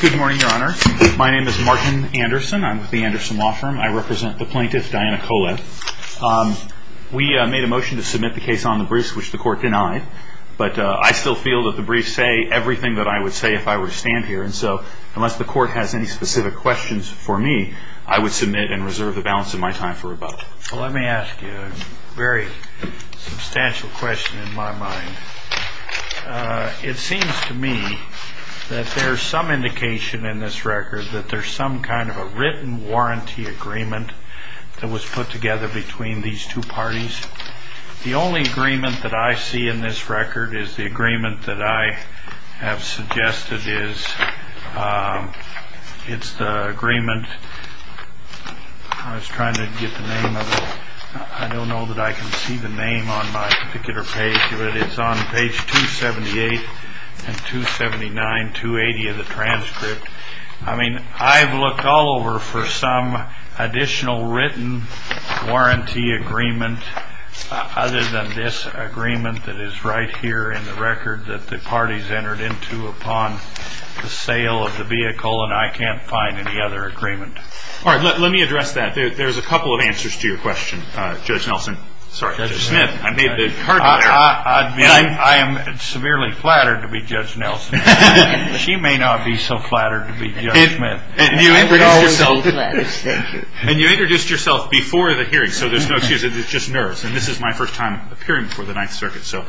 Good morning, Your Honor. My name is Martin Anderson. I'm with the Anderson Law Firm. I represent the plaintiff, Diana Kolev. We made a motion to submit the case on the briefs, which the court denied. But I still feel that the briefs say everything that I would say if I were to stand here. And so, unless the court has any specific questions for me, I would submit and reserve the balance of my time for rebuttal. Let me ask you a very substantial question in my mind. It seems to me that there's some indication in this record that there's some kind of a written warranty agreement that was put together between these two parties. The only agreement that I see in this record is the agreement that I have suggested is, it's the agreement, I was trying to get the name of it, I don't know that I can see the name on my particular page, but it's on page 278 and 279, 280 of the transcript. I mean, I've looked all over for some additional written warranty agreement other than this agreement that is right here in the record that the parties entered into upon the sale of the vehicle, and I can't find any other agreement. All right, let me address that. There's a couple of answers to your question, Judge Nelson. Sorry, Judge Smith. I made the card out there. I am severely flattered to be Judge Nelson. She may not be so flattered to be Judge Smith. And you introduced yourself before the hearing, so there's no excuse. It's just nerves. And this is my first time appearing before the Ninth Circuit, so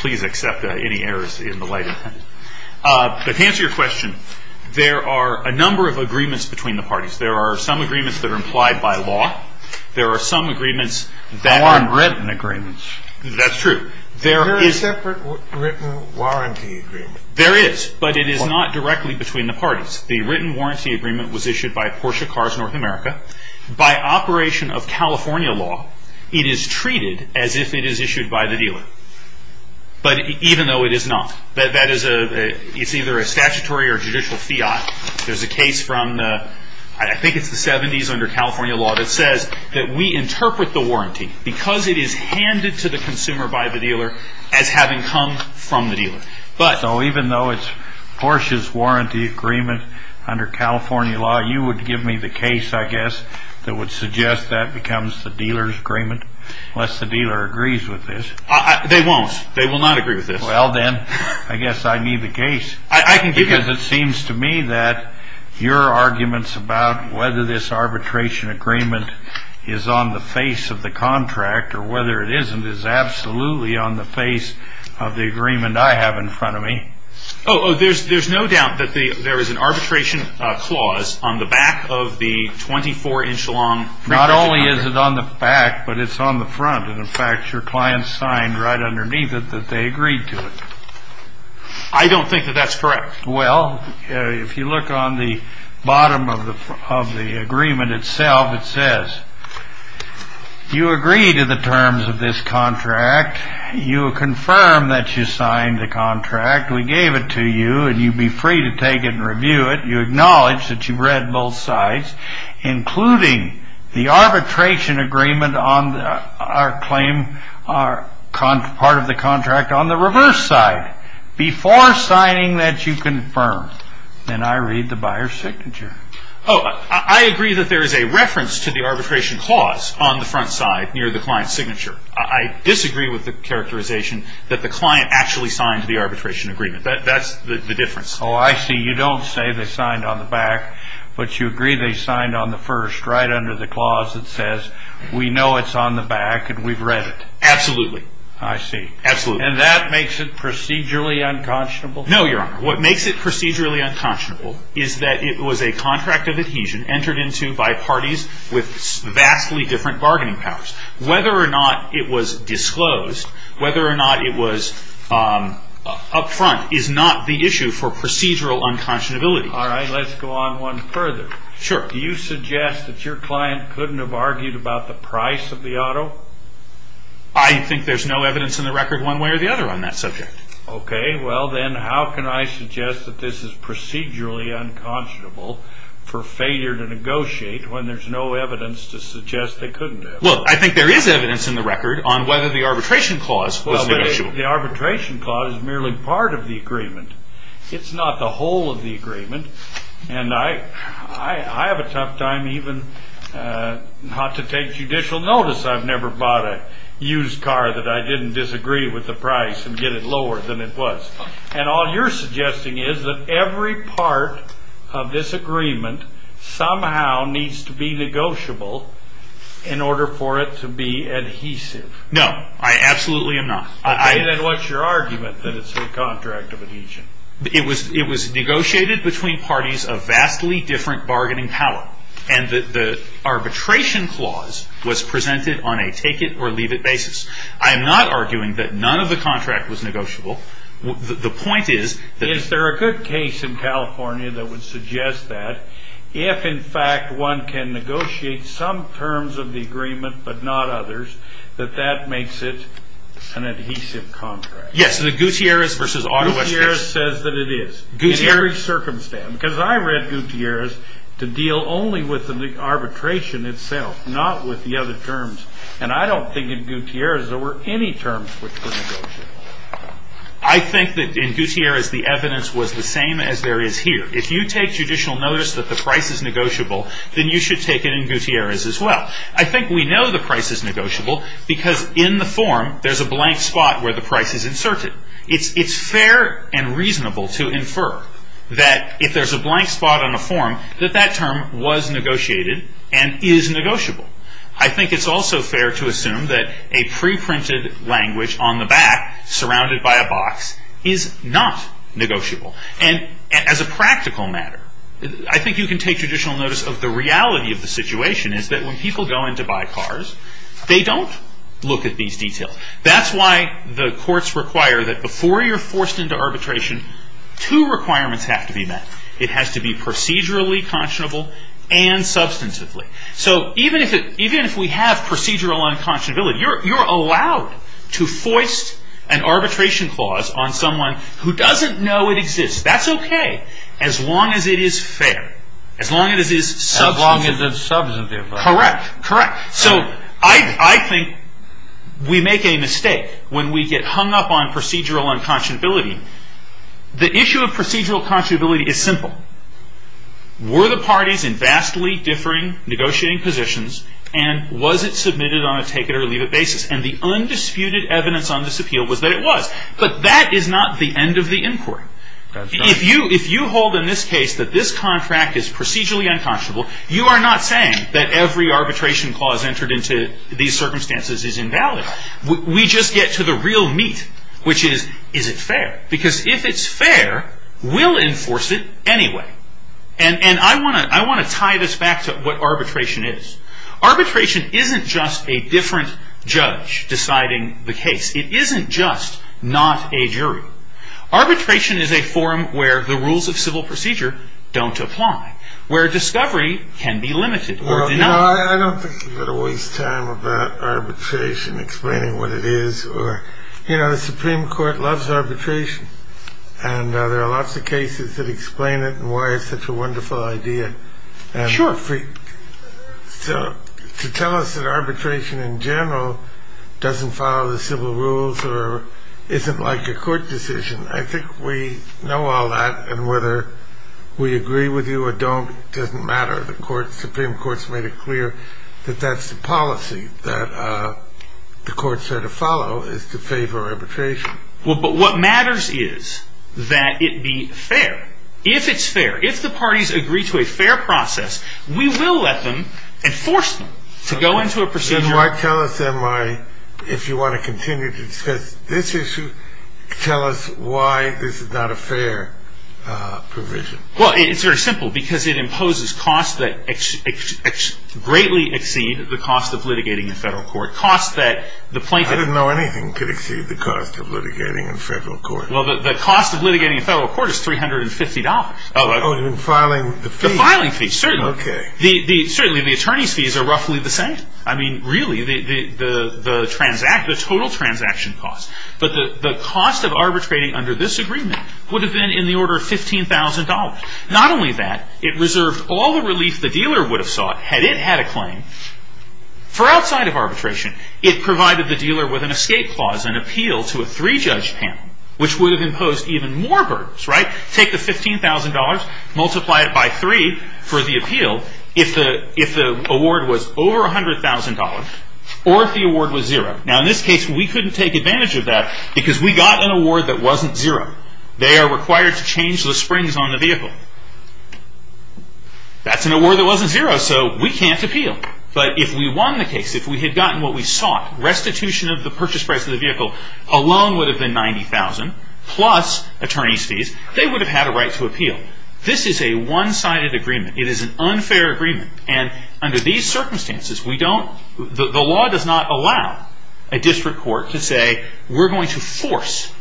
please accept any errors in the light of that. But to answer your question, there are a number of agreements between the parties. There are some agreements that are implied by law. There are some agreements that aren't written agreements. That's true. There is separate written warranty agreement. There is, but it is not directly between the parties. The written warranty agreement was issued by Porsche Cars North America. By operation of California law, it is treated as if it is issued by the dealer, but even though it is not. That is a – it's either a statutory or judicial fiat. There's a case from – I think it's the 70s under California law that says that we interpret the warranty because it is handed to the consumer by the dealer as having come from the dealer. So even though it's Porsche's warranty agreement under California law, you would give me the case, I guess, that would suggest that becomes the dealer's agreement, unless the dealer agrees with this. They won't. They will not agree with this. Well, then, I guess I need the case. I can give you the case. Because it seems to me that your arguments about whether this arbitration agreement is on the face of the contract or whether it isn't is absolutely on the face of the agreement I have in front of me. Oh, there's no doubt that there is an arbitration clause on the back of the 24-inch long pre-patch contract. Not only is it on the back, but it's on the front. And, in fact, your client signed right underneath it that they agreed to it. I don't think that that's correct. Well, if you look on the bottom of the agreement itself, it says, You agree to the terms of this contract. You confirm that you signed the contract. We gave it to you, and you'd be free to take it and review it. You acknowledge that you read both sides, including the arbitration agreement on our claim, part of the contract on the reverse side, before signing that you confirm. Then I read the buyer's signature. Oh, I agree that there is a reference to the arbitration clause on the front side near the client's signature. I disagree with the characterization that the client actually signed the arbitration agreement. That's the difference. Oh, I see. You don't say they signed on the back, but you agree they signed on the first right under the clause that says, We know it's on the back, and we've read it. Absolutely. I see. Absolutely. And that makes it procedurally unconscionable? No, Your Honor. What makes it procedurally unconscionable is that it was a contract of adhesion entered into by parties with vastly different bargaining powers. Whether or not it was disclosed, whether or not it was up front, is not the issue for procedural unconscionability. All right. Let's go on one further. Sure. Do you suggest that your client couldn't have argued about the price of the auto? I think there's no evidence in the record one way or the other on that subject. Okay. Well, then how can I suggest that this is procedurally unconscionable for failure to negotiate when there's no evidence to suggest they couldn't have? Well, I think there is evidence in the record on whether the arbitration clause was negotiable. Well, the arbitration clause is merely part of the agreement. It's not the whole of the agreement, and I have a tough time even not to take judicial notice. I've never bought a used car that I didn't disagree with the price and get it lower than it was. And all you're suggesting is that every part of this agreement somehow needs to be negotiable in order for it to be adhesive. No. I absolutely am not. Okay. Then what's your argument that it's a contract of adhesion? It was negotiated between parties of vastly different bargaining power, and the arbitration clause was presented on a take-it-or-leave-it basis. I am not arguing that none of the contract was negotiable. The point is that... Is there a good case in California that would suggest that if, in fact, one can negotiate some terms of the agreement but not others, that that makes it an adhesive contract? Yes. In the Gutierrez versus Autowash case... Gutierrez says that it is. Gutierrez... In every circumstance. Because I read Gutierrez to deal only with the arbitration itself, not with the other terms. And I don't think in Gutierrez there were any terms which were negotiable. I think that in Gutierrez the evidence was the same as there is here. If you take judicial notice that the price is negotiable, then you should take it in Gutierrez as well. I think we know the price is negotiable because in the form there's a blank spot where the price is inserted. It's fair and reasonable to infer that if there's a blank spot on a form, that that term was negotiated and is negotiable. I think it's also fair to assume that a pre-printed language on the back, surrounded by a box, is not negotiable. And as a practical matter, I think you can take judicial notice of the reality of the situation is that when people go in to buy cars, they don't look at these details. That's why the courts require that before you're forced into arbitration, two requirements have to be met. It has to be procedurally conscionable and substantively. Even if we have procedural unconscionability, you're allowed to force an arbitration clause on someone who doesn't know it exists. That's okay, as long as it is fair. As long as it's substantive. Correct. I think we make a mistake when we get hung up on procedural unconscionability. The issue of procedural conscionability is simple. Were the parties in vastly differing negotiating positions, and was it submitted on a take-it-or-leave-it basis? And the undisputed evidence on this appeal was that it was. But that is not the end of the inquiry. If you hold in this case that this contract is procedurally unconscionable, you are not saying that every arbitration clause entered into these circumstances is invalid. We just get to the real meat, which is, is it fair? Because if it's fair, we'll enforce it anyway. And I want to tie this back to what arbitration is. Arbitration isn't just a different judge deciding the case. It isn't just not a jury. Arbitration is a form where the rules of civil procedure don't apply, where discovery can be limited or denied. I don't think you've got to waste time about arbitration, explaining what it is. You know, the Supreme Court loves arbitration. And there are lots of cases that explain it and why it's such a wonderful idea. Sure. To tell us that arbitration in general doesn't follow the civil rules or isn't like a court decision, I think we know all that, and whether we agree with you or don't doesn't matter. The Supreme Court has made it clear that that's the policy that the courts have to follow, is to favor arbitration. Well, but what matters is that it be fair. If it's fair, if the parties agree to a fair process, we will let them, enforce them, to go into a procedure. If you want to continue to discuss this issue, tell us why this is not a fair provision. Well, it's very simple, because it imposes costs that greatly exceed the cost of litigating in federal court. I didn't know anything could exceed the cost of litigating in federal court. Well, the cost of litigating in federal court is $350. Oh, you mean filing the fees? The filing fees, certainly. Okay. Certainly, the attorney's fees are roughly the same. I mean, really, the total transaction cost. But the cost of arbitrating under this agreement would have been in the order of $15,000. Not only that, it reserved all the relief the dealer would have sought, had it had a claim, for outside of arbitration. It provided the dealer with an escape clause, an appeal to a three-judge panel, which would have imposed even more burdens, right? Take the $15,000, multiply it by three for the appeal, if the award was over $100,000, or if the award was zero. Now, in this case, we couldn't take advantage of that, because we got an award that wasn't zero. They are required to change the springs on the vehicle. That's an award that wasn't zero, so we can't appeal. But if we won the case, if we had gotten what we sought, restitution of the purchase price of the vehicle alone would have been $90,000, plus attorney's fees, they would have had a right to appeal. This is a one-sided agreement. It is an unfair agreement. And under these circumstances, we don't – the law does not allow a district court to say, we're going to force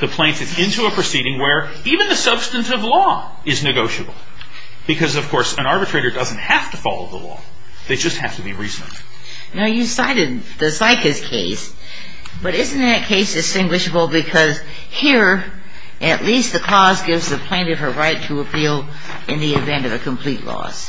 the plaintiff into a proceeding where even the substantive law is negotiable. Because, of course, an arbitrator doesn't have to follow the law. They just have to be reasonable. Now, you cited the Zica's case, but isn't that case distinguishable because here, at least the clause gives the plaintiff her right to appeal in the event of a complete loss?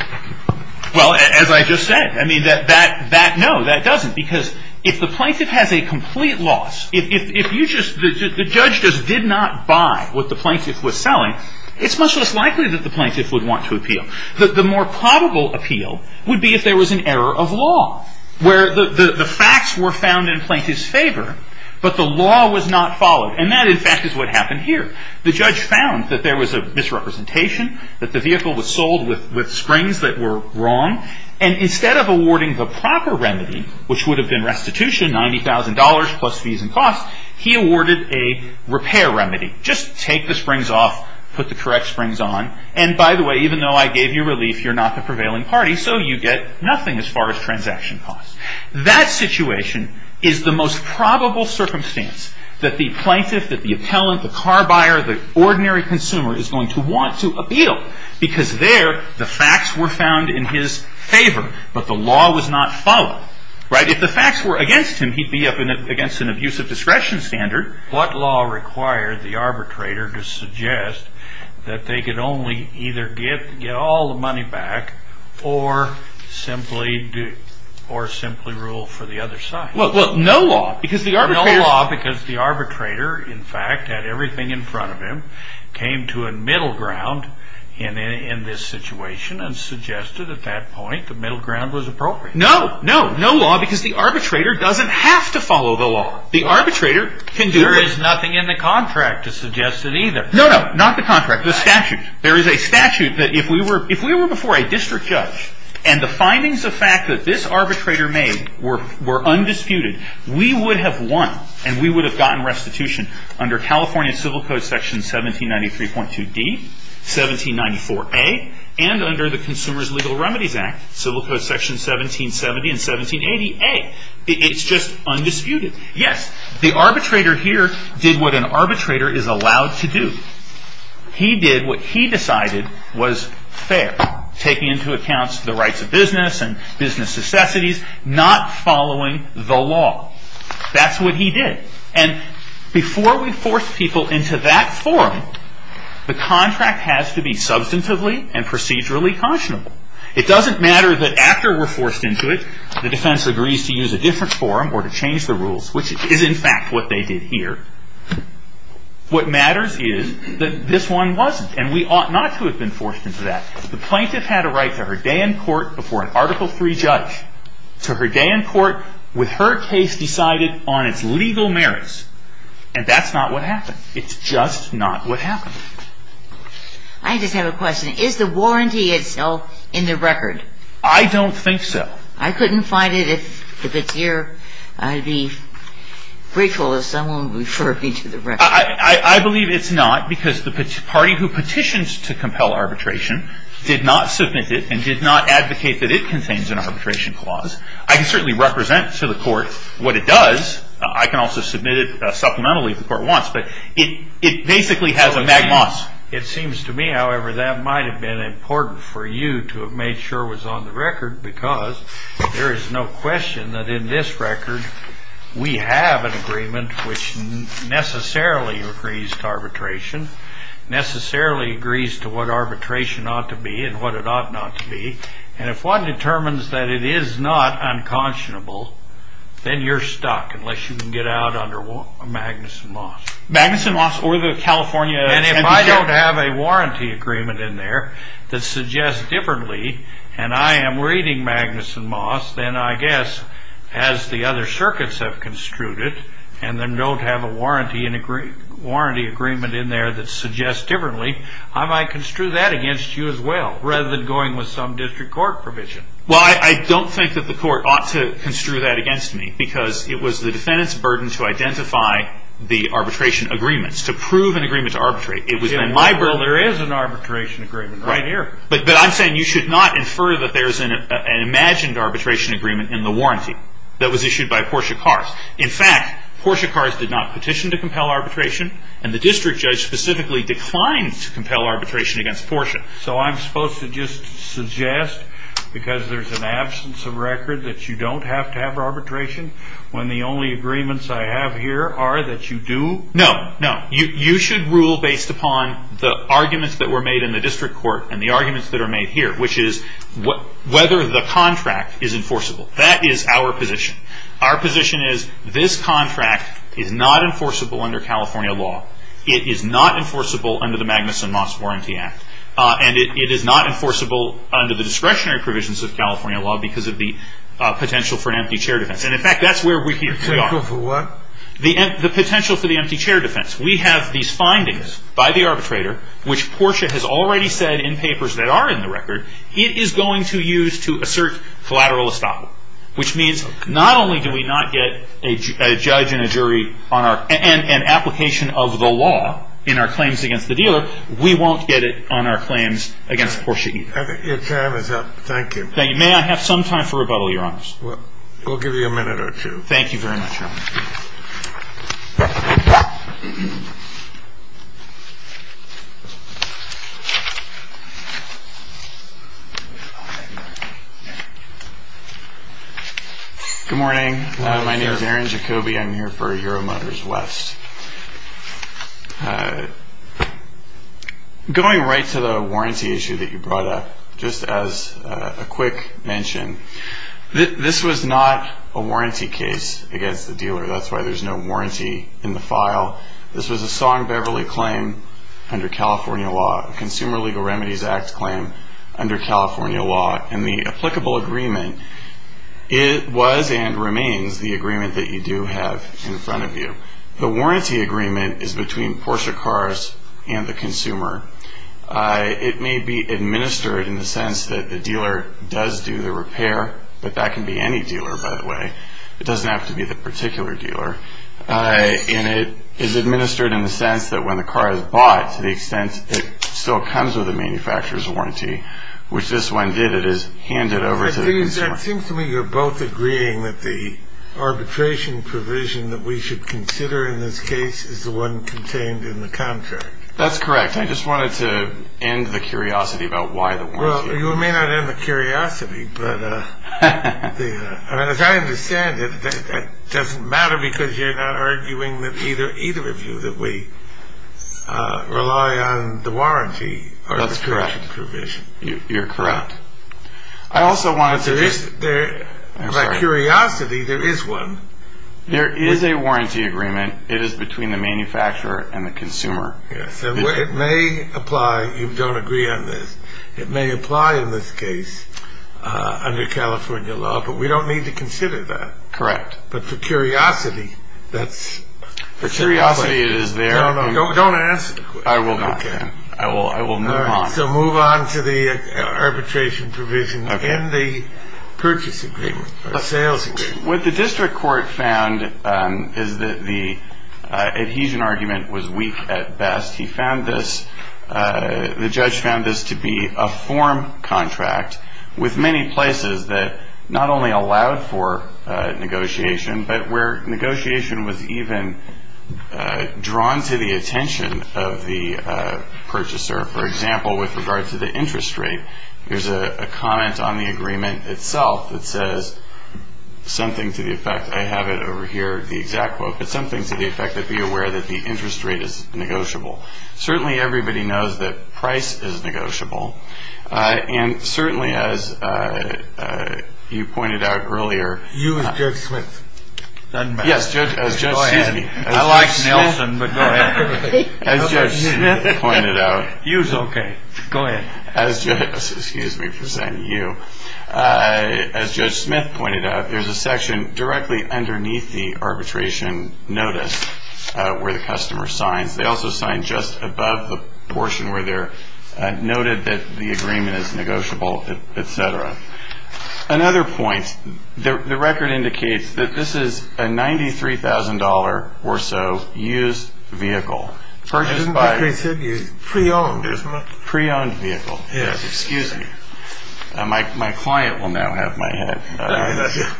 Well, as I just said, I mean, that – no, that doesn't. Because if the plaintiff has a complete loss, if you just – the judge just did not buy what the plaintiff was selling, it's much less likely that the plaintiff would want to appeal. The more probable appeal would be if there was an error of law where the facts were found in plaintiff's favor, but the law was not followed. And that, in fact, is what happened here. The judge found that there was a misrepresentation, that the vehicle was sold with springs that were wrong, and instead of awarding the proper remedy, which would have been restitution, $90,000 plus fees and costs, he awarded a repair remedy. Just take the springs off, put the correct springs on, and by the way, even though I gave you relief, you're not the prevailing party, so you get nothing as far as transaction costs. That situation is the most probable circumstance that the plaintiff, that the appellant, the car buyer, the ordinary consumer is going to want to appeal, because there the facts were found in his favor, but the law was not followed, right? If the facts were against him, he'd be up against an abusive discretion standard. What law required the arbitrator to suggest that they could only either get all the money back, or simply rule for the other side? No law, because the arbitrator, in fact, had everything in front of him, came to a middle ground in this situation, and suggested at that point the middle ground was appropriate. No, no law, because the arbitrator doesn't have to follow the law. There is nothing in the contract to suggest it either. No, no, not the contract, the statute. There is a statute that if we were before a district judge, and the findings of fact that this arbitrator made were undisputed, we would have won, and we would have gotten restitution under California Civil Code Section 1793.2D, 1794A, and under the Consumer's Legal Remedies Act, Civil Code Section 1770 and 1780A. It's just undisputed. Yes, the arbitrator here did what an arbitrator is allowed to do. He did what he decided was fair, taking into account the rights of business and business necessities, not following the law. That's what he did. And before we force people into that forum, the contract has to be substantively and procedurally cautionable. It doesn't matter that after we're forced into it, the defense agrees to use a different forum or to change the rules, which is in fact what they did here. What matters is that this one wasn't, and we ought not to have been forced into that. The plaintiff had a right to her day in court before an Article III judge, to her day in court with her case decided on its legal merits, and that's not what happened. It's just not what happened. I just have a question. Is the warranty itself in the record? I don't think so. I couldn't find it. If it's here, I'd be grateful if someone referred me to the record. I believe it's not because the party who petitions to compel arbitration did not submit it and did not advocate that it contains an arbitration clause. I can certainly represent to the court what it does. I can also submit it supplementally if the court wants, but it basically has a magma. It seems to me, however, that might have been important for you to have made sure was on the record because there is no question that in this record we have an agreement which necessarily agrees to arbitration, necessarily agrees to what arbitration ought to be and what it ought not to be, and if one determines that it is not unconscionable, then you're stuck unless you can get out under Magnuson-Moss. Magnuson-Moss or the California... And if I don't have a warranty agreement in there that suggests differently, and I am reading Magnuson-Moss, then I guess as the other circuits have construed it and then don't have a warranty agreement in there that suggests differently, I might construe that against you as well rather than going with some district court provision. Well, I don't think that the court ought to construe that against me because it was the defendant's burden to identify the arbitration agreements, to prove an agreement to arbitrate. Well, there is an arbitration agreement right here. But I'm saying you should not infer that there is an imagined arbitration agreement in the warranty that was issued by Porsche Cars. In fact, Porsche Cars did not petition to compel arbitration and the district judge specifically declined to compel arbitration against Porsche. So I'm supposed to just suggest because there's an absence of record that you don't have to have arbitration when the only agreements I have here are that you do? No, no. You should rule based upon the arguments that were made in the district court and the arguments that are made here, which is whether the contract is enforceable. That is our position. Our position is this contract is not enforceable under California law. It is not enforceable under the Magnuson-Moss Warranty Act. And it is not enforceable under the discretionary provisions of California law because of the potential for an empty chair defense. And in fact, that's where we are. The potential for what? The potential for the empty chair defense. We have these findings by the arbitrator, which Porsche has already said in papers that are in the record, it is going to use to assert collateral estoppel, which means not only do we not get a judge and a jury and application of the law in our claims against the dealer, we won't get it on our claims against Porsche E. Your time is up. Thank you. May I have some time for rebuttal, Your Honors? We'll give you a minute or two. Thank you very much, Your Honor. Good morning. My name is Aaron Jacoby. I'm here for Euromotors West. Going right to the warranty issue that you brought up, just as a quick mention, this was not a warranty case against the dealer. That's why there's no warranty in the file. This was a Song-Beverly claim under California law, a Consumer Legal Remedies Act claim under California law, and the applicable agreement was and remains the agreement that you do have in front of you. The warranty agreement is between Porsche Cars and the consumer. It may be administered in the sense that the dealer does do the repair, but that can be any dealer, by the way. It doesn't have to be the particular dealer. And it is administered in the sense that when the car is bought, to the extent it still comes with a manufacturer's warranty, which this one did, it is handed over to the consumer. It seems to me you're both agreeing that the arbitration provision that we should consider in this case is the one contained in the contract. That's correct. I just wanted to end the curiosity about why the warranty. Well, you may not end the curiosity, but as I understand it, that doesn't matter because you're not arguing that either of you, that we rely on the warranty or the arbitration provision. That's correct. You're correct. I also wanted to just... But curiosity, there is one. There is a warranty agreement. It is between the manufacturer and the consumer. Yes. It may apply. You don't agree on this. It may apply in this case under California law, but we don't need to consider that. Correct. But for curiosity, that's... For curiosity, it is there. No, no. Don't answer. I will not. Okay. I will move on. All right. So move on to the arbitration provision in the purchase agreement or sales agreement. What the district court found is that the adhesion argument was weak at best. He found this, the judge found this to be a form contract with many places that not only allowed for negotiation, but where negotiation was even drawn to the attention of the purchaser. For example, with regard to the interest rate, there is a comment on the agreement itself that says something to the effect, I have it over here, the exact quote, but something to the effect that be aware that the interest rate is negotiable. Certainly, everybody knows that price is negotiable. And certainly, as you pointed out earlier... Use Judge Smith. Yes. Go ahead. I like Nelson, but go ahead. As Judge Smith pointed out... Use, okay. Go ahead. Excuse me for saying you. As Judge Smith pointed out, there's a section directly underneath the arbitration notice where the customer signs. They also sign just above the portion where they're noted that the agreement is negotiable, et cetera. Another point, the record indicates that this is a $93,000 or so used vehicle. Purchased and pre-owned, isn't it? Pre-owned vehicle. Yes. Excuse me. My client will now have my head.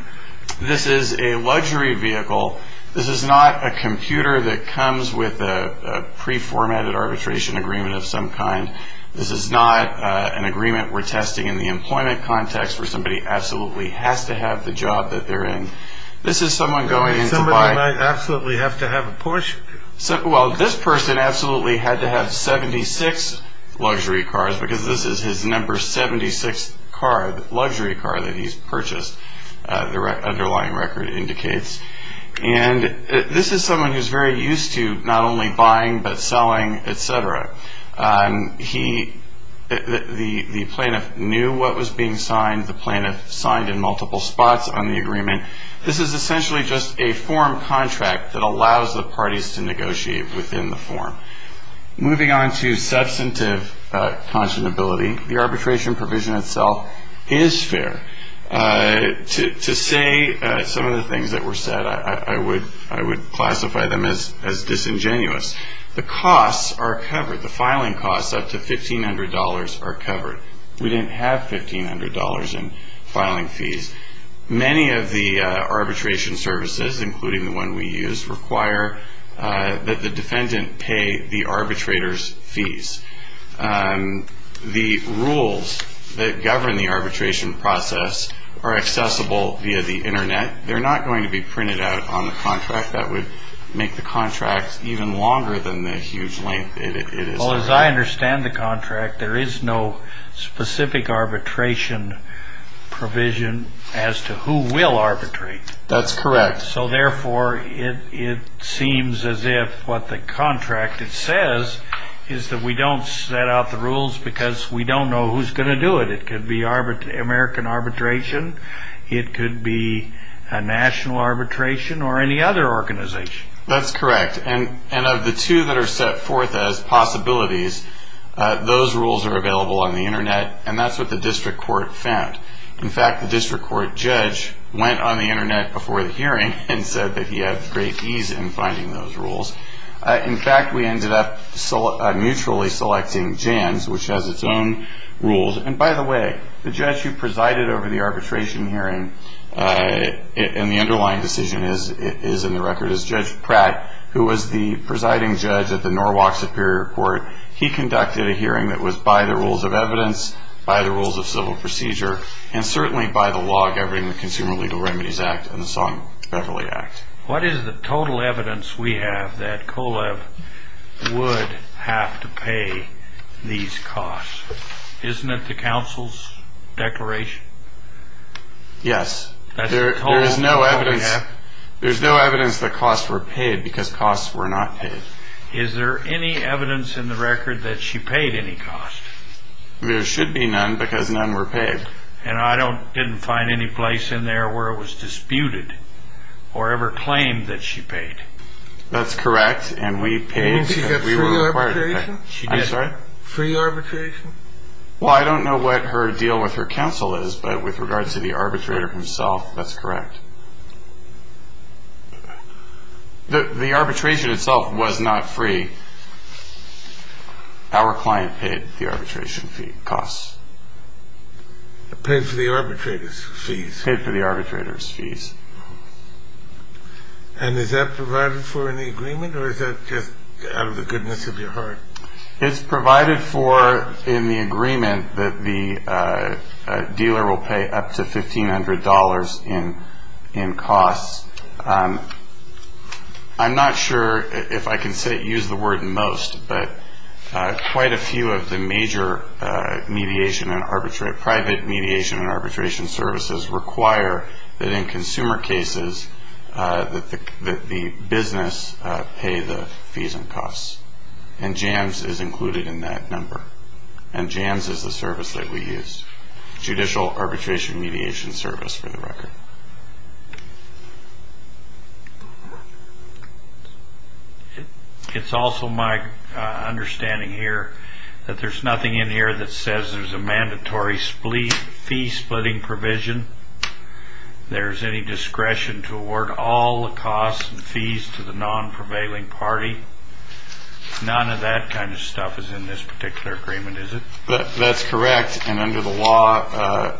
This is a luxury vehicle. This is not a computer that comes with a pre-formatted arbitration agreement of some kind. This is not an agreement we're testing in the employment context where somebody absolutely has to have the job that they're in. This is someone going in to buy... Somebody might absolutely have to have a Porsche. Well, this person absolutely had to have 76 luxury cars because this is his number 76 luxury car that he's purchased, the underlying record indicates. And this is someone who's very used to not only buying but selling, et cetera. The plaintiff knew what was being signed. The plaintiff signed in multiple spots on the agreement. This is essentially just a form contract that allows the parties to negotiate within the form. Moving on to substantive conscionability, the arbitration provision itself is fair. To say some of the things that were said, I would classify them as disingenuous. The costs are covered. The filing costs up to $1,500 are covered. We didn't have $1,500 in filing fees. Many of the arbitration services, including the one we use, require that the defendant pay the arbitrator's fees. The rules that govern the arbitration process are accessible via the Internet. They're not going to be printed out on the contract. That would make the contract even longer than the huge length it is. As I understand the contract, there is no specific arbitration provision as to who will arbitrate. That's correct. Therefore, it seems as if what the contract says is that we don't set out the rules because we don't know who's going to do it. It could be American arbitration. It could be a national arbitration or any other organization. That's correct. Of the two that are set forth as possibilities, those rules are available on the Internet, and that's what the district court found. In fact, the district court judge went on the Internet before the hearing and said that he had great ease in finding those rules. In fact, we ended up mutually selecting JANS, which has its own rules. By the way, the judge who presided over the arbitration hearing and the underlying decision is in the record is Judge Pratt, who was the presiding judge at the Norwalk Superior Court. He conducted a hearing that was by the rules of evidence, by the rules of civil procedure, and certainly by the law governing the Consumer Legal Remedies Act and the Song-Beverly Act. What is the total evidence we have that COLEB would have to pay these costs? Isn't it the council's declaration? Yes. There is no evidence that costs were paid because costs were not paid. Is there any evidence in the record that she paid any cost? There should be none because none were paid. And I didn't find any place in there where it was disputed or ever claimed that she paid. That's correct, and we paid. Didn't she get free arbitration? I'm sorry? Free arbitration? Well, I don't know what her deal with her council is, but with regards to the arbitrator himself, that's correct. The arbitration itself was not free. Our client paid the arbitration fee, costs. Paid for the arbitrator's fees? Paid for the arbitrator's fees. And is that provided for in the agreement, or is that just out of the goodness of your heart? It's provided for in the agreement that the dealer will pay up to $1,500 in costs. I'm not sure if I can use the word most, but quite a few of the major private mediation and arbitration services require that in consumer cases that the business pay the fees and costs. And JAMS is included in that number. And JAMS is the service that we use. Judicial Arbitration Mediation Service, for the record. It's also my understanding here that there's nothing in here that says there's a mandatory fee-splitting provision. There's any discretion to award all the costs and fees to the non-prevailing party. None of that kind of stuff is in this particular agreement, is it? That's correct. And under the law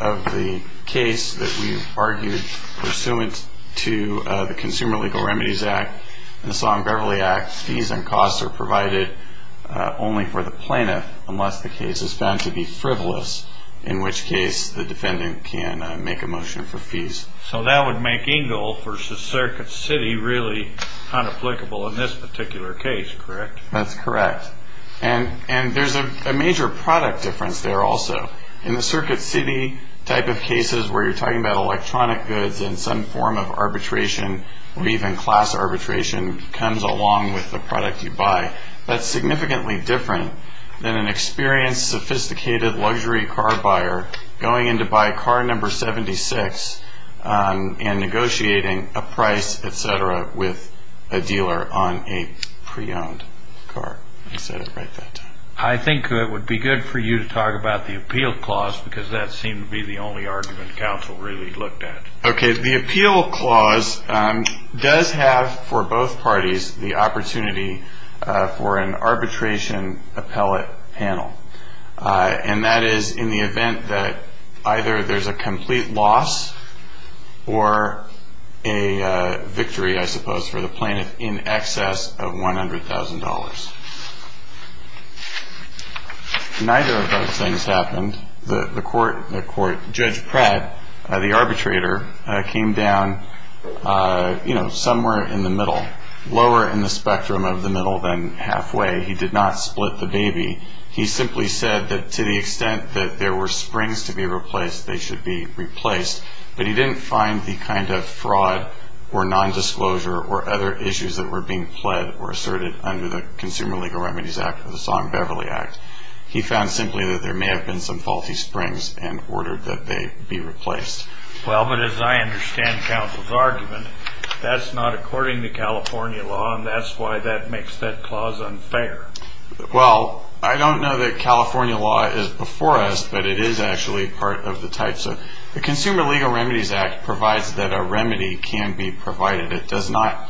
of the case that we've argued, pursuant to the Consumer Legal Remedies Act and the Song-Beverly Act, fees and costs are provided only for the plaintiff unless the case is found to be frivolous, So that would make Engle versus Circuit City really unapplicable in this particular case, correct? That's correct. And there's a major product difference there also. In the Circuit City type of cases where you're talking about electronic goods and some form of arbitration or even class arbitration comes along with the product you buy, that's significantly different than an experienced, sophisticated luxury car buyer going in to buy car number 76 and negotiating a price, et cetera, with a dealer on a pre-owned car. I said it right that time. I think it would be good for you to talk about the Appeal Clause because that seemed to be the only argument counsel really looked at. Okay. The Appeal Clause does have for both parties the opportunity for an arbitration appellate panel. And that is in the event that either there's a complete loss or a victory, I suppose, for the plaintiff in excess of $100,000. Neither of those things happened. Judge Pratt, the arbitrator, came down somewhere in the middle, lower in the spectrum of the middle than halfway. He did not split the baby. He simply said that to the extent that there were springs to be replaced, they should be replaced. But he didn't find the kind of fraud or nondisclosure or other issues that were being pled or asserted under the Consumer Legal Remedies Act or the Song-Beverly Act. He found simply that there may have been some faulty springs and ordered that they be replaced. Well, but as I understand counsel's argument, that's not according to California law, and that's why that makes that clause unfair. Well, I don't know that California law is before us, but it is actually part of the type. The Consumer Legal Remedies Act provides that a remedy can be provided. It's not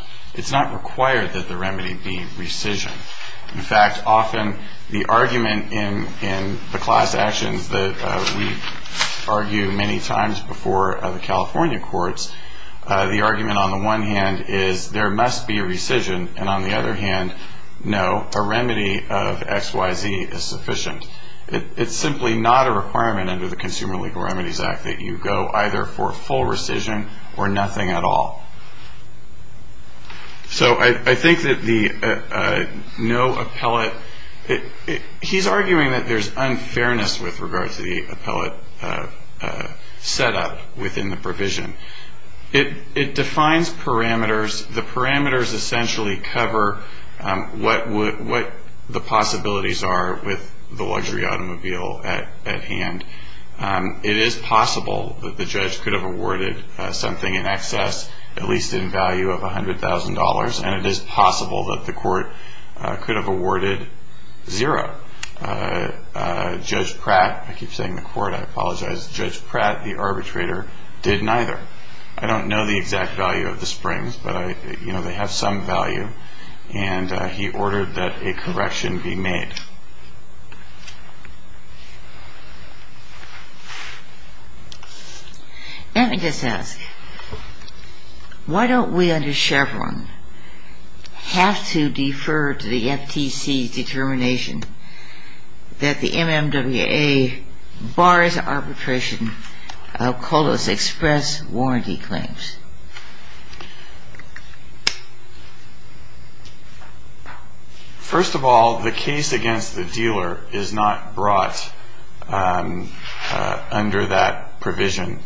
required that the remedy be rescission. In fact, often the argument in the class actions that we argue many times before the California courts, the argument on the one hand is there must be rescission, and on the other hand, no, a remedy of XYZ is sufficient. It's simply not a requirement under the Consumer Legal Remedies Act that you go either for full rescission or nothing at all. So I think that the no appellate, he's arguing that there's unfairness with regard to the appellate setup within the provision. It defines parameters. The parameters essentially cover what the possibilities are with the luxury automobile at hand. It is possible that the judge could have awarded something in excess, at least in value of $100,000, and it is possible that the court could have awarded zero. Judge Pratt, I keep saying the court. I apologize. Judge Pratt, the arbitrator, did neither. I don't know the exact value of the springs, but they have some value, and he ordered that a correction be made. Let me just ask, why don't we under Chevron have to defer to the FTC's determination that the MMWA bars arbitration of COLOS Express warranty claims? First of all, the case against the dealer is not brought under that provision.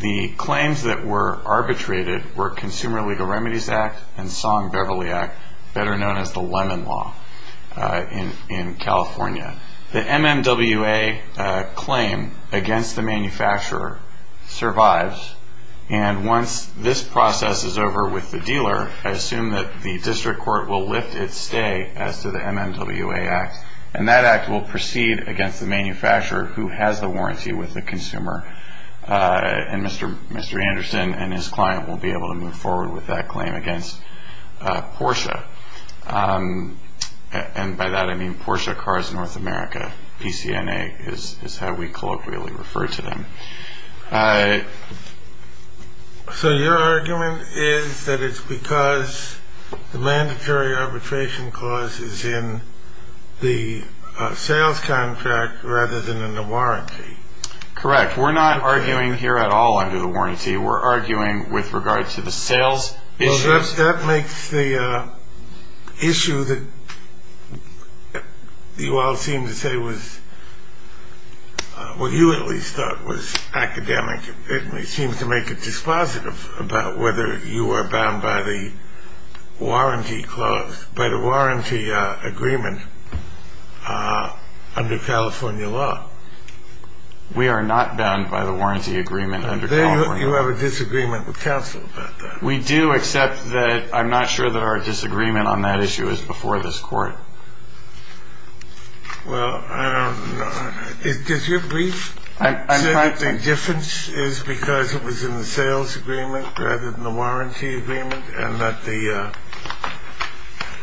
The claims that were arbitrated were Consumer Legal Remedies Act and Song-Beverly Act, better known as the Lemon Law in California. The MMWA claim against the manufacturer survives, and once this process is over with the dealer, I assume that the district court will lift its stay as to the MMWA act, and that act will proceed against the manufacturer who has the warranty with the consumer, and Mr. Anderson and his client will be able to move forward with that claim against Porsche. And by that I mean Porsche Cars North America, PCNA is how we colloquially refer to them. So your argument is that it's because the mandatory arbitration clause is in the sales contract rather than in the warranty? Correct. We're not arguing here at all under the warranty. We're arguing with regard to the sales issues. That makes the issue that you all seem to say was, well you at least thought was academic, it seems to make it dispositive about whether you are bound by the warranty clause, by the warranty agreement under California law. We are not bound by the warranty agreement under California law. You have a disagreement with counsel about that? We do, except that I'm not sure that our disagreement on that issue is before this court. Well, does your brief say that the difference is because it was in the sales agreement rather than the warranty agreement, and that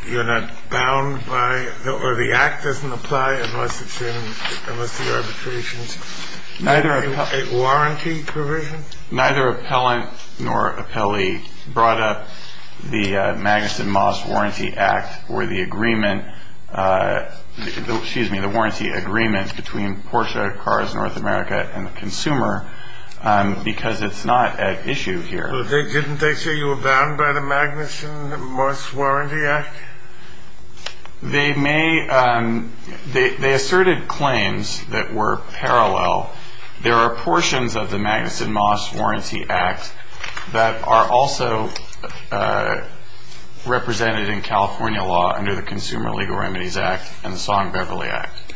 you're not bound by, or the act doesn't apply unless it's in, unless the arbitration's a warranty provision? Neither appellant nor appellee brought up the Magnuson Moss Warranty Act or the agreement, excuse me, the warranty agreement between Porsche Cars North America and the consumer because it's not at issue here. Didn't they say you were bound by the Magnuson Moss Warranty Act? They may, they asserted claims that were parallel. There are portions of the Magnuson Moss Warranty Act that are also represented in California law under the Consumer Legal Remedies Act and the Song-Beverly Act.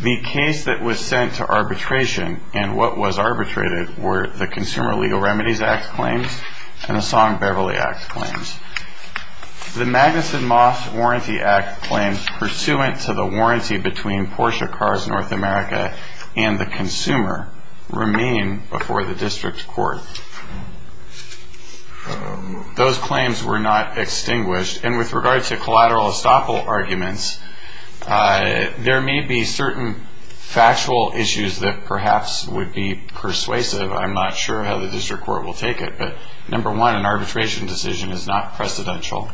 The case that was sent to arbitration and what was arbitrated were the Consumer Legal Remedies Act claims and the Song-Beverly Act claims. The Magnuson Moss Warranty Act claims pursuant to the warranty between Porsche Cars North America and the consumer remain before the district court. Those claims were not extinguished, and with regard to collateral estoppel arguments, there may be certain factual issues that perhaps would be persuasive. I'm not sure how the district court will take it, but number one, an arbitration decision is not precedential.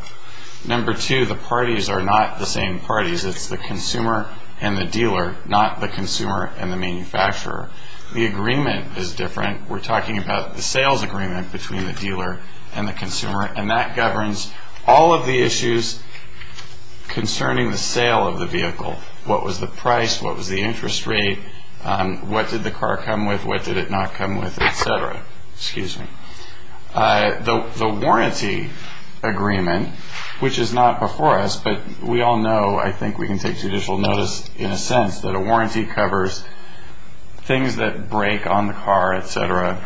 Number two, the parties are not the same parties. It's the consumer and the dealer, not the consumer and the manufacturer. The agreement is different. We're talking about the sales agreement between the dealer and the consumer, and that governs all of the issues concerning the sale of the vehicle. What was the price? What was the interest rate? What did the car come with? What did it not come with, et cetera. The warranty agreement, which is not before us, but we all know, I think we can take judicial notice in a sense, that a warranty covers things that break on the car, et cetera,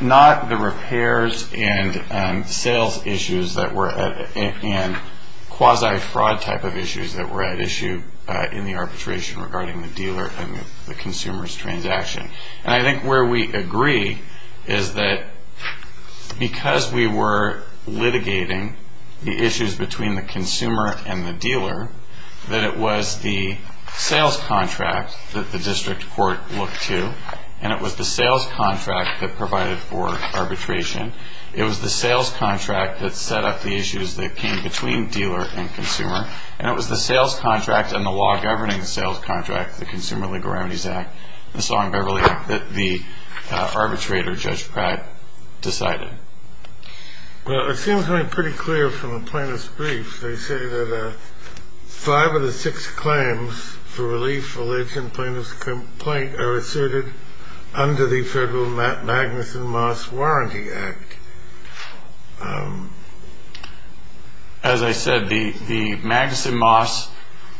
not the repairs and sales issues and quasi-fraud type of issues that were at issue in the arbitration regarding the dealer and the consumer's transaction. And I think where we agree is that because we were litigating the issues between the consumer and the dealer, that it was the sales contract that the district court looked to, and it was the sales contract that provided for arbitration. It was the sales contract that set up the issues that came between dealer and consumer, and it was the sales contract and the law governing the sales contract, the Consumer Legal Remedies Act, the Song-Beverly Act, that the arbitrator, Judge Pratt, decided. Well, it seems to me pretty clear from the plaintiff's brief. They say that five of the six claims for relief, religion, plaintiff's complaint, are asserted under the Federal Magnuson Moss Warranty Act. As I said, the Magnuson Moss,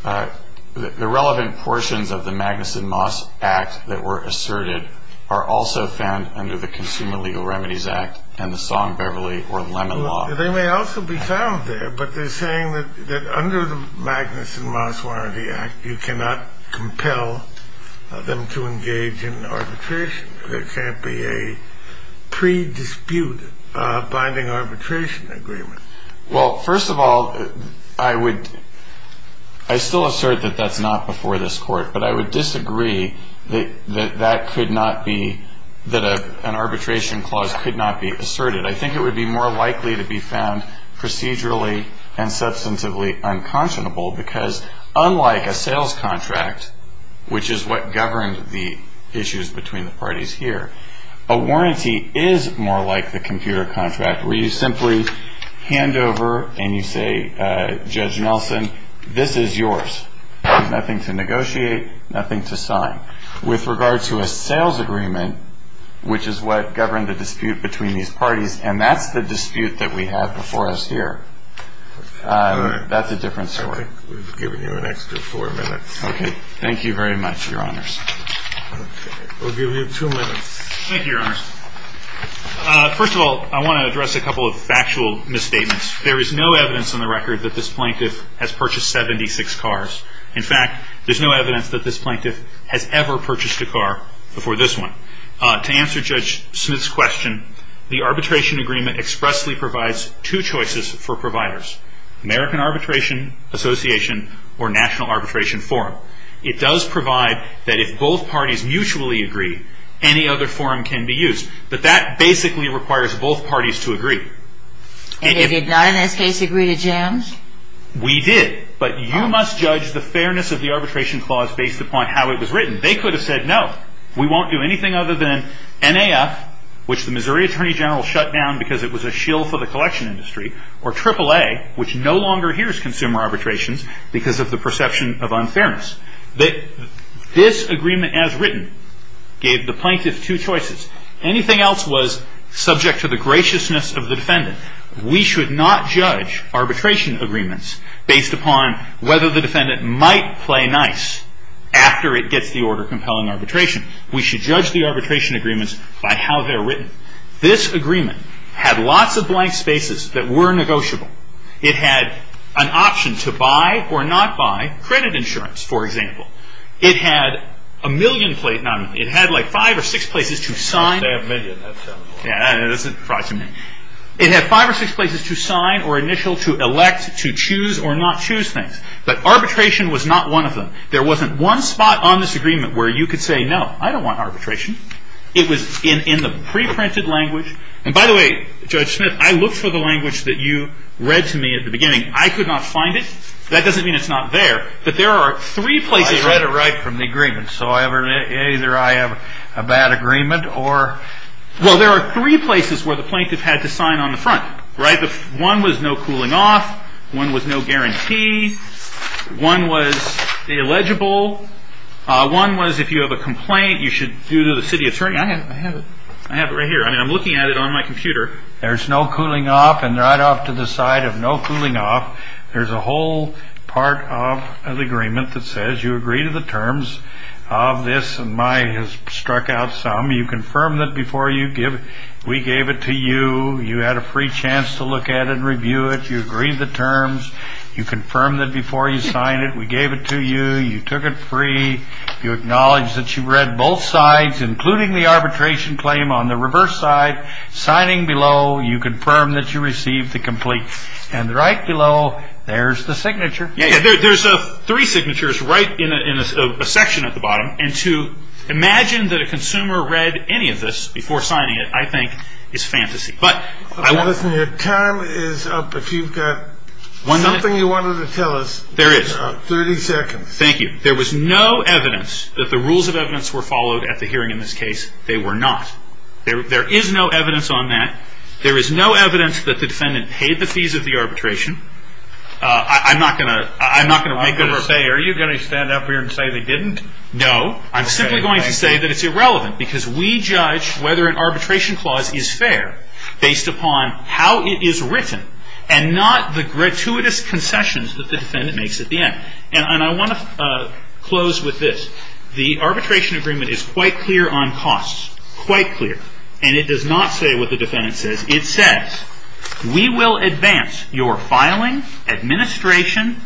the relevant portions of the Magnuson Moss Act that were asserted are also found under the Consumer Legal Remedies Act and the Song-Beverly or Lemon Law. They may also be found there, but they're saying that under the Magnuson Moss Warranty Act, you cannot compel them to engage in arbitration. There can't be a pre-dispute binding arbitration agreement. Well, first of all, I still assert that that's not before this Court, but I would disagree that an arbitration clause could not be asserted. I think it would be more likely to be found procedurally and substantively unconscionable because unlike a sales contract, which is what governed the issues between the parties here, a warranty is more like the computer contract where you simply hand over and you say, Judge Nelson, this is yours. There's nothing to negotiate, nothing to sign. With regard to a sales agreement, which is what governed the dispute between these parties, and that's the dispute that we have before us here, that's a different story. We've given you an extra four minutes. Okay. Thank you very much, Your Honors. Okay. We'll give you two minutes. Thank you, Your Honors. First of all, I want to address a couple of factual misstatements. There is no evidence on the record that this plaintiff has purchased 76 cars. In fact, there's no evidence that this plaintiff has ever purchased a car before this one. To answer Judge Smith's question, the arbitration agreement expressly provides two choices for providers. American Arbitration Association or National Arbitration Forum. It does provide that if both parties mutually agree, any other forum can be used. But that basically requires both parties to agree. They did not in this case agree to jams? We did, but you must judge the fairness of the arbitration clause based upon how it was written. They could have said, no, we won't do anything other than NAF, which the Missouri Attorney General shut down because it was a shill for the collection industry, or AAA, which no longer hears consumer arbitrations because of the perception of unfairness. This agreement as written gave the plaintiff two choices. Anything else was subject to the graciousness of the defendant. We should not judge arbitration agreements based upon whether the defendant might play nice after it gets the order compelling arbitration. This agreement had lots of blank spaces that were negotiable. It had an option to buy or not buy credit insurance, for example. It had five or six places to sign or initial to elect to choose or not choose things. But arbitration was not one of them. There wasn't one spot on this agreement where you could say, no, I don't want arbitration. It was in the preprinted language. And by the way, Judge Smith, I looked for the language that you read to me at the beginning. I could not find it. That doesn't mean it's not there. But there are three places. I read it right from the agreement. So either I have a bad agreement or? Well, there are three places where the plaintiff had to sign on the front, right? One was no cooling off. One was no guarantee. One was the illegible. One was if you have a complaint, you should do to the city attorney. I have it. I have it right here. I'm looking at it on my computer. There's no cooling off and right off to the side of no cooling off. There's a whole part of the agreement that says you agree to the terms of this. And my has struck out some. You confirm that before you give it, we gave it to you. You had a free chance to look at it and review it. You agreed the terms. You confirm that before you sign it, we gave it to you. You took it free. You acknowledge that you read both sides, including the arbitration claim on the reverse side. Signing below, you confirm that you received the complete. And right below, there's the signature. There's three signatures right in a section at the bottom. And to imagine that a consumer read any of this before signing it, I think, is fantasy. But I want. Your time is up. If you've got something you wanted to tell us. There is. 30 seconds. Thank you. There was no evidence that the rules of evidence were followed at the hearing in this case. They were not. There is no evidence on that. There is no evidence that the defendant paid the fees of the arbitration. I'm not going to make a rebuttal. Are you going to stand up here and say they didn't? No. I'm simply going to say that it's irrelevant because we judge whether an arbitration clause is fair based upon how it is written and not the gratuitous concessions that the defendant makes at the end. And I want to close with this. The arbitration agreement is quite clear on costs. Quite clear. And it does not say what the defendant says. It says, we will advance your filing, administration,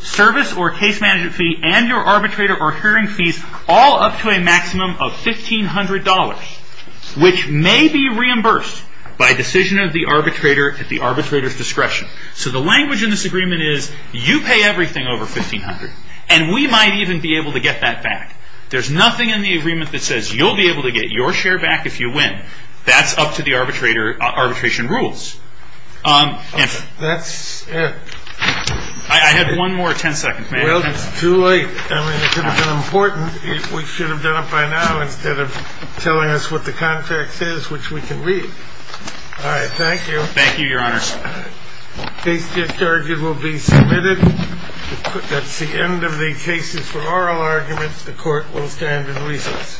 service or case management fee, and your arbitrator or hearing fees all up to a maximum of $1,500, which may be reimbursed by decision of the arbitrator at the arbitrator's discretion. So the language in this agreement is you pay everything over $1,500. And we might even be able to get that back. There's nothing in the agreement that says you'll be able to get your share back if you win. That's up to the arbitration rules. That's it. I had one more ten seconds. Well, it's too late. I mean, it could have been important. We should have done it by now instead of telling us what the contract says, which we can read. All right. Thank you. Thank you, Your Honor. Case discharge will be submitted. That's the end of the cases for oral arguments. The court will stand in recess.